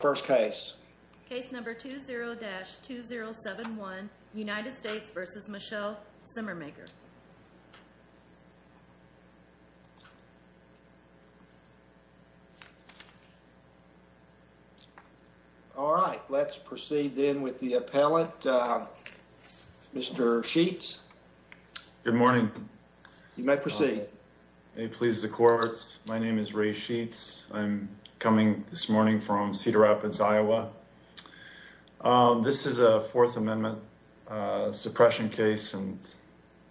First case, case number 20-2071 United States v. Michelle Simmermaker. All right, let's proceed then with the appellate, uh, Mr. Sheets. Good morning. You may proceed. May it please the courts. My name is Ray Sheets. I'm coming this morning from Cedar Rapids, Iowa. Um, this is a fourth amendment, uh, suppression case and,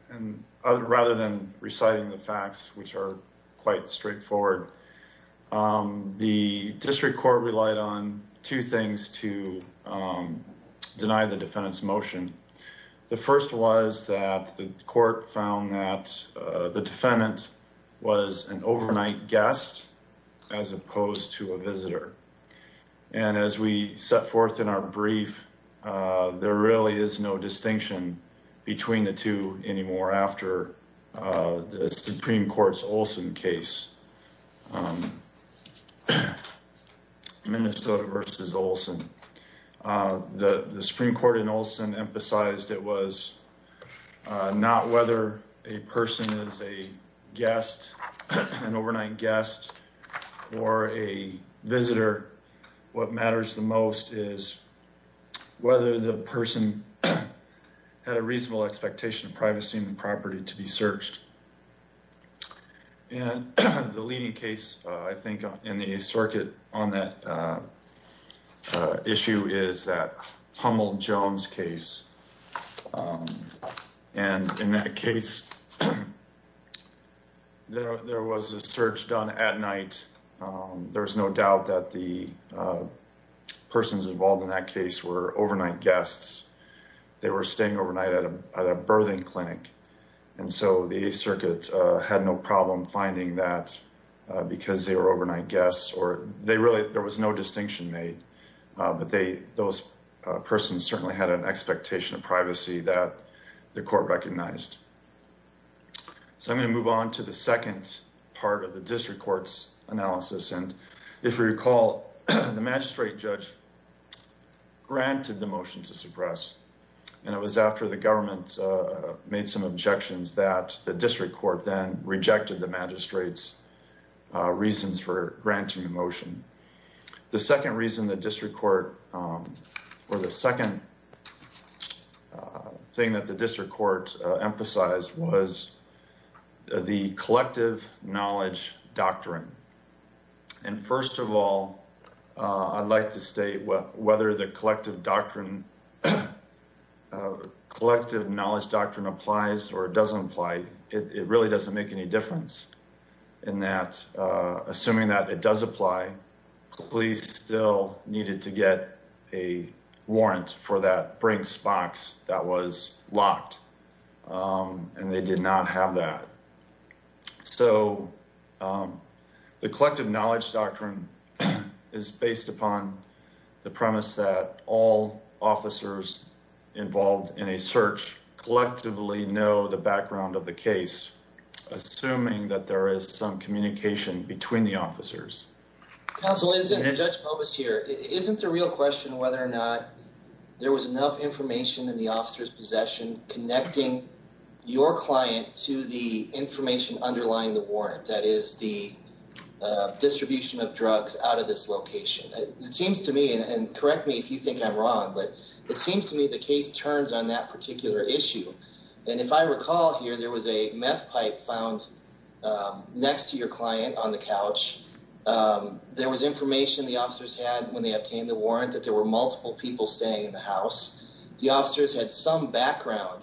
and rather than reciting the facts, which are quite straightforward, um, the district court relied on two things to, um, deny the defendant's motion. The first was that the court found that, uh, the defendant was an overnight guest. As opposed to a visitor. And as we set forth in our brief, uh, there really is no distinction between the two anymore after, uh, the Supreme Court's Olson case, um, Minnesota v. Olson, uh, the Supreme Court in Olson emphasized it was, uh, not whether a or a visitor, what matters the most is whether the person had a reasonable expectation of privacy and property to be searched. And the leading case, uh, I think in the circuit on that, uh, uh, issue is that Humboldt Jones case. Um, and in that case, there was a search done at night. Um, there was no doubt that the, uh, persons involved in that case were overnight guests. They were staying overnight at a, at a birthing clinic. And so the circuit, uh, had no problem finding that, uh, because they were overnight guests or they really, there was no distinction made. Uh, but they, those, uh, persons certainly had an expectation of privacy that the court recognized. So I'm going to move on to the second part of the district court's analysis. And if you recall, the magistrate judge granted the motion to suppress, and it was after the government, uh, made some objections that the district court then rejected the magistrate's, uh, reasons for granting the motion. The second reason the district court, um, or the second, uh, thing that the district court criticized was the collective knowledge doctrine. And first of all, uh, I'd like to state whether the collective doctrine, uh, collective knowledge doctrine applies or it doesn't apply, it really doesn't make any difference in that, uh, assuming that it does apply, police still needed to get a warrant for that Brinks box that was locked. Um, and they did not have that. So, um, the collective knowledge doctrine is based upon the premise that all officers involved in a search collectively know the background of the case, assuming that there is some communication between the officers. Counsel, isn't, Judge Pobos here, isn't the real question whether or not there was enough information in the officer's possession, connecting your client to the information underlying the warrant. That is the, uh, distribution of drugs out of this location. It seems to me and correct me if you think I'm wrong, but it seems to me the case turns on that particular issue. And if I recall here, there was a meth pipe found, um, next to your client on the couch. Um, there was information the officers had when they obtained the warrant that there were multiple people staying in the house, the officers had some background,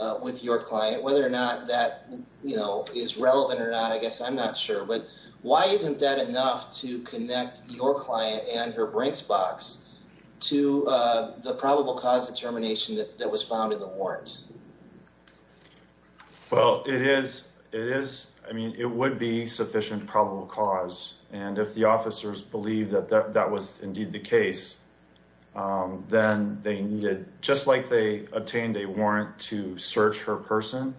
uh, with your client, whether or not that, you know, is relevant or not, I guess I'm not sure, but why isn't that enough to connect your client and her Brinks box to, uh, the probable cause of termination that was found in the warrant? Well, it is, it is, I mean, it would be sufficient probable cause. And if the officers believe that that was indeed the case, um, then they needed, just like they obtained a warrant to search her person,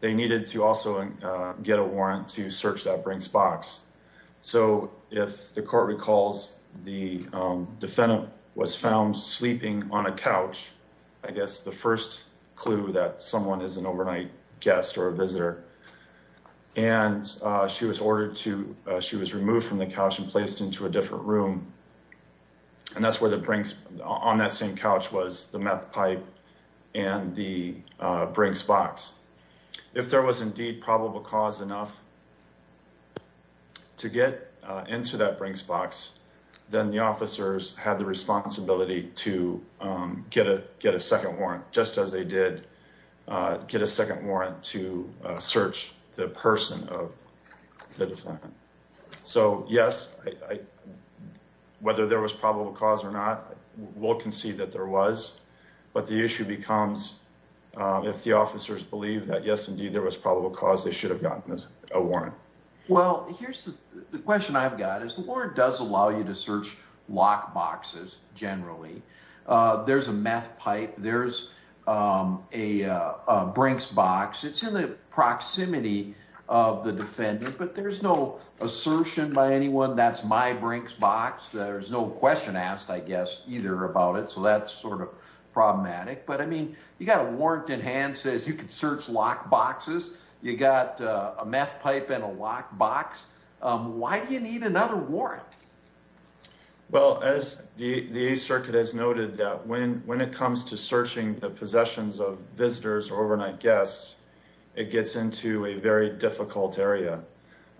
they needed to also, uh, get a warrant to search that Brinks box. So if the court recalls the, um, defendant was found sleeping on a couch, I guess the first clue that someone is an overnight guest or a visitor, and, uh, she was ordered to, uh, she was removed from the couch and placed into a different room and that's where the Brinks on that same couch was the meth pipe and the, uh, Brinks box. If there was indeed probable cause enough to get into that Brinks box, then the officers had the responsibility to, um, get a, get a second warrant, just as they did, uh, get a second warrant to search the person of the defendant. So yes, I, whether there was probable cause or not, we'll concede that there was, but the issue becomes, um, if the officers believe that, yes, indeed, there was probable cause they should have gotten a warrant. Well, here's the question I've got is the board does allow you to search lock boxes generally. Uh, there's a meth pipe. There's, um, a, uh, a Brinks box. It's in the proximity of the defendant, but there's no assertion by anyone. That's my Brinks box. There's no question asked, I guess, either about it. So that's sort of problematic, but I mean, you got a warrant in hand says you could search lock boxes. You got a meth pipe in a lock box. Um, why do you need another warrant? Well, as the, the circuit has noted that when, when it comes to searching the possessions of visitors or overnight guests, it gets into a very difficult area.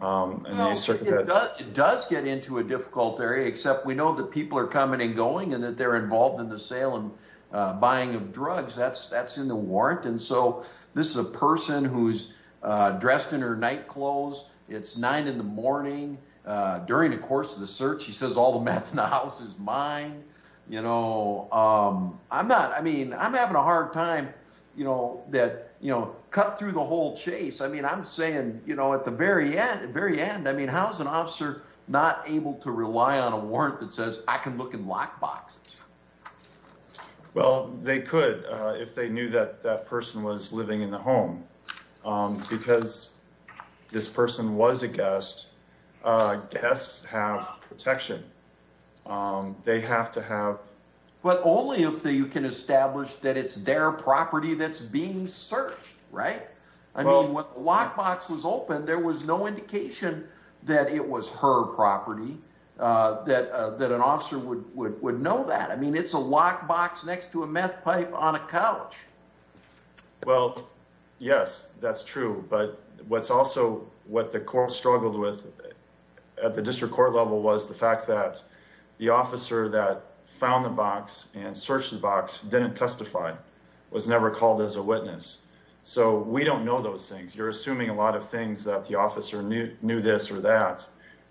Um, and the circuit does get into a difficult area, except we know that people are coming and going and that they're involved in the sale and, uh, buying of drugs that's, that's in the warrant. And so this is a person who's, uh, dressed in her night clothes. It's nine in the morning, uh, during the course of the search, he says all the meth in the house is mine. You know, um, I'm not, I mean, I'm having a hard time, you know, that, you know, cut through the whole chase. I mean, I'm saying, you know, at the very end, very end, I mean, how's an officer not able to rely on a warrant that says I can look in lock boxes? Well, they could, uh, if they knew that that person was living in the home, um, because this person was a guest, uh, guests have protection. Um, they have to have, but only if they, you can establish that it's their property that's being searched, right? I mean, when the lock box was open, there was no indication that it was her property, uh, that, uh, that an officer would, would, would know that. I mean, it's a lock box next to a meth pipe on a couch. Well, yes, that's true. But what's also what the court struggled with at the district court level was the fact that the officer that found the box and searched the box didn't testify, was never called as a witness. So we don't know those things. You're assuming a lot of things that the officer knew, knew this or that.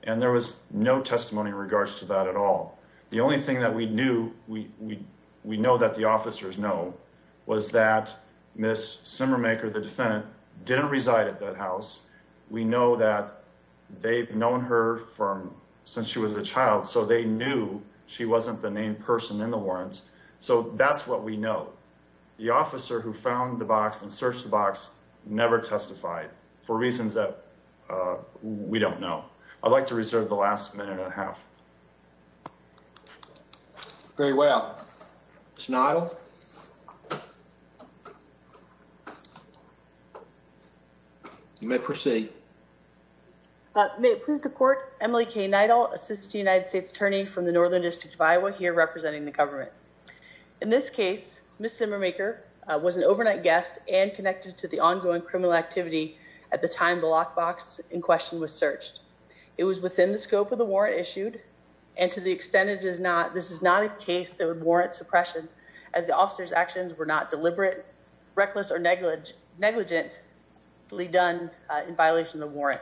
And there was no testimony in regards to that at all. The only thing that we knew, we, we, we know that the officers know was that Ms. Simmermaker, the defendant, didn't reside at that house. We know that they've known her from since she was a child. So they knew she wasn't the named person in the warrants. So that's what we know. The officer who found the box and searched the box never testified for reasons that, uh, we don't know. I'd like to reserve the last minute and a half. Very well, Ms. Simmermaker, you may proceed. Uh, may it please the court. Emily K. Neidl, assistant United States attorney from the Northern district of Iowa here, representing the government. In this case, Ms. Simmermaker, uh, was an overnight guest and connected to the ongoing criminal activity at the time the lock box in question was searched. It was within the scope of the warrant issued. And to the extent it is not, this is not a case that would warrant suppression as the officer's actions were not deliberate, reckless, or negligent negligently done, uh, in violation of the warrant.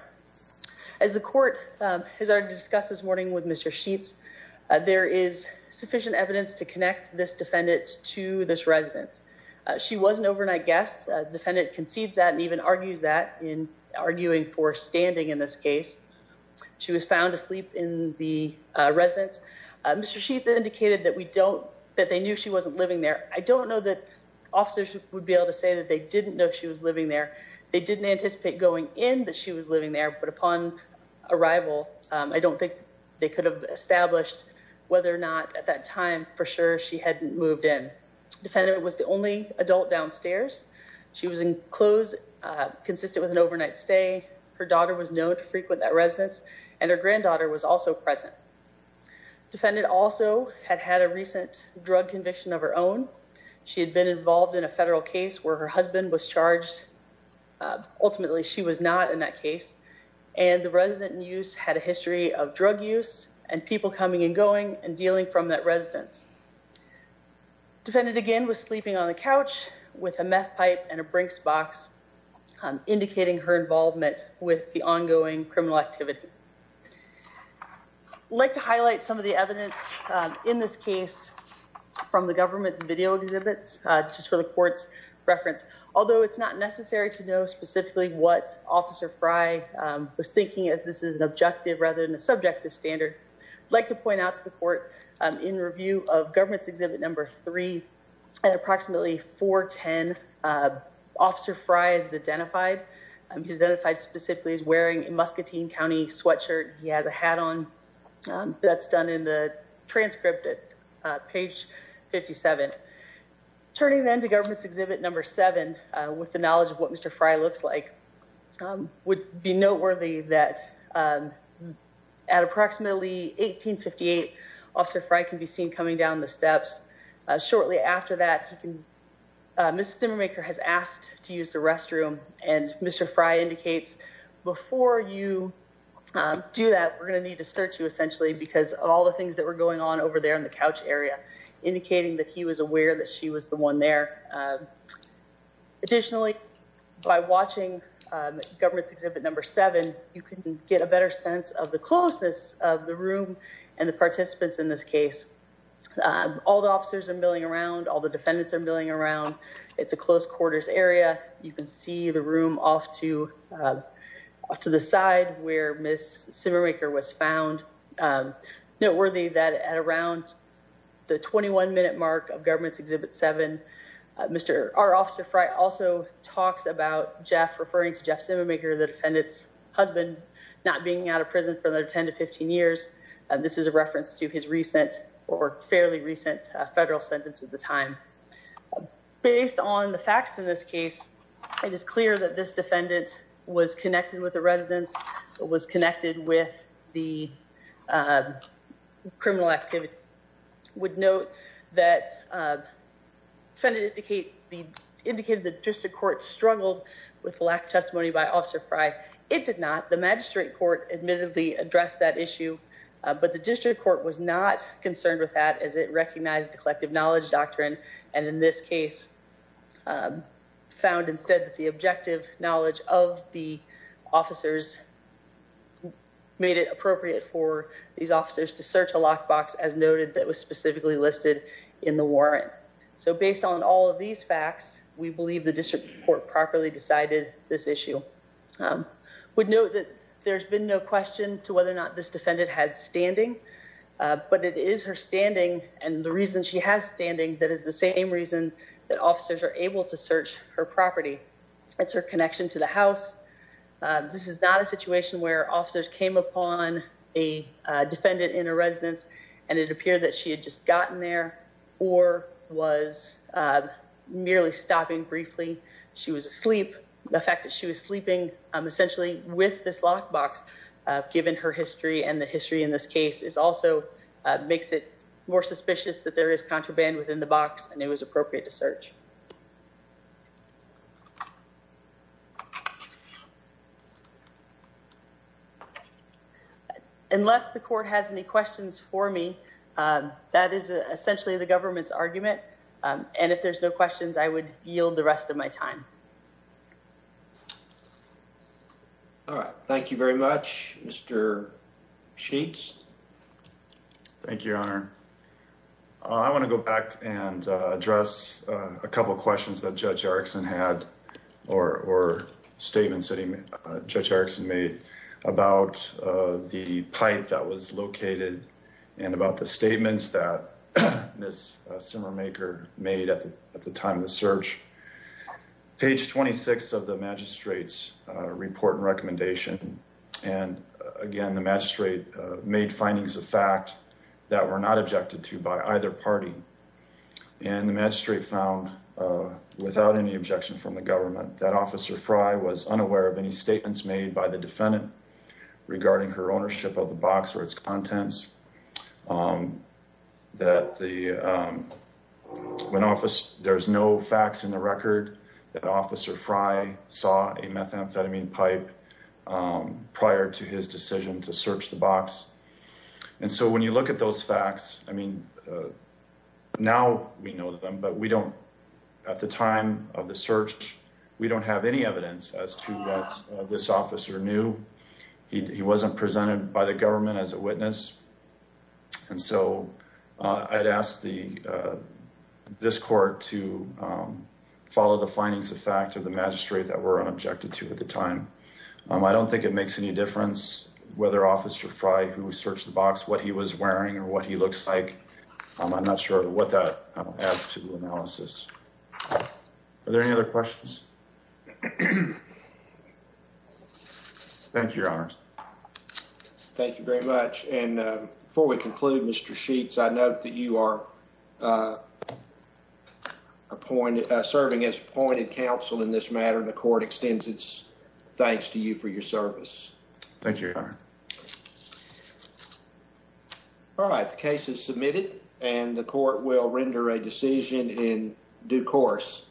As the court, um, has already discussed this morning with Mr. Sheets, uh, there is sufficient evidence to connect this defendant to this residence, uh, she wasn't overnight guests, uh, defendant concedes that and even argues that in arguing for standing in this case, she was found asleep in the, uh, residence, uh, Mr. Sheets indicated that we don't, that they knew she wasn't living there. I don't know that officers would be able to say that they didn't know she was living there, they didn't anticipate going in that she was living there, but upon arrival, um, I don't think they could have established whether or not at that time for sure she hadn't moved in. Defendant was the only adult downstairs. She was in clothes, uh, consistent with an overnight stay. Her daughter was known to frequent that residence and her granddaughter was also present. Defendant also had had a recent drug conviction of her own. She had been involved in a federal case where her husband was charged. Uh, ultimately she was not in that case and the resident in use had a history of drug use and people coming and going and dealing from that residence. Defendant again was sleeping on the couch with a meth pipe and a Brinks box, um, indicating her involvement with the ongoing criminal activity. I'd like to highlight some of the evidence, um, in this case from the government's video exhibits, uh, just for the court's reference. Although it's not necessary to know specifically what officer Frye, um, was thinking as this is an objective rather than a subjective standard. I'd like to point out to the court, um, in review of government's exhibit number three, and approximately 410, uh, officer Frye is identified, um, identified specifically as wearing a Muscatine County sweatshirt. He has a hat on, um, that's done in the transcript at, uh, page 57. Turning then to government's exhibit number seven, uh, with the knowledge of what Mr. Frye looks like, um, would be noteworthy that, um, at approximately 1858 officer Frye can be seen coming down the steps. Uh, shortly after that, he can, uh, Ms. Restroom and Mr. Frye indicates before you, um, do that, we're going to need to search you essentially because of all the things that were going on over there in the couch area, indicating that he was aware that she was the one there. Uh, additionally, by watching, um, government's exhibit number seven, you can get a better sense of the closeness of the room and the participants in this case, um, all the officers are milling around, all the defendants are milling around. It's a close quarters area. You can see the room off to, um, off to the side where Ms. Simmermaker was found. Um, noteworthy that at around the 21 minute mark of government's exhibit seven, uh, Mr. Our officer Frye also talks about Jeff referring to Jeff Simmermaker, the defendant's husband, not being out of prison for the 10 to 15 years. And this is a reference to his recent or fairly recent federal sentence at the time, based on the facts in this case, it is clear that this defendant was connected with the residence. So it was connected with the, uh, criminal activity would note that, uh, trying to indicate the indicated the district court struggled with lack of testimony by officer Frye. It did not. The magistrate court admittedly addressed that issue. Uh, but the district court was not concerned with that as it recognized the collective knowledge doctrine. And in this case, um, found instead that the objective knowledge of the officers made it appropriate for these officers to search a lock box as noted, that was specifically listed in the warrant. So based on all of these facts, we believe the district court properly decided this issue, um, would know that there's been no question to whether or not this defendant had standing. Uh, but it is her standing and the reason she has standing. That is the same reason that officers are able to search her property. It's her connection to the house. Uh, this is not a situation where officers came upon a defendant in a residence and it appeared that she had just gotten there or was, uh, merely stopping briefly, she was asleep. The fact that she was sleeping, um, essentially with this lock box, uh, uh, makes it more suspicious that there is contraband within the box and it was appropriate to search. Unless the court has any questions for me, um, that is essentially the government's argument. Um, and if there's no questions, I would yield the rest of my time. All right. Thank you very much. Mr. Sheets. Thank you, Your Honor. I want to go back and address a couple of questions that Judge Erickson had or, or statements that Judge Erickson made about, uh, the pipe that was located and about the statements that Ms. Simmermaker made at the time of the search. Page 26 of the magistrate's, uh, report and recommendation. And again, the magistrate, uh, made findings of fact that were not objected to by either party. And the magistrate found, uh, without any objection from the government that officer Frye was unaware of any statements made by the defendant regarding her ownership of the box or its contents. Um, that the, um, when office there's no facts in the record that officer Frye saw a methamphetamine pipe, um, prior to his decision to search the box. And so when you look at those facts, I mean, uh, now we know them, but we don't at the time of the search, we don't have any evidence as to what this officer knew. He, he wasn't presented by the government as a witness. And so, uh, I'd ask the, uh, this court to, um, follow the findings of fact of the magistrate that were unobjected to at the time. Um, I don't think it makes any difference whether officer Frye who searched the box, what he was wearing or what he looks like, um, I'm not sure what that adds to the analysis. Are there any other questions? Thank you, your honors. Thank you very much. And, uh, before we conclude, Mr. Sheets, I note that you are, uh, appointed, uh, serving as appointed counsel in this matter, the court extends its thanks to you for your service. Thank you, your honor. All right. The case is submitted and the court will render a decision in due course.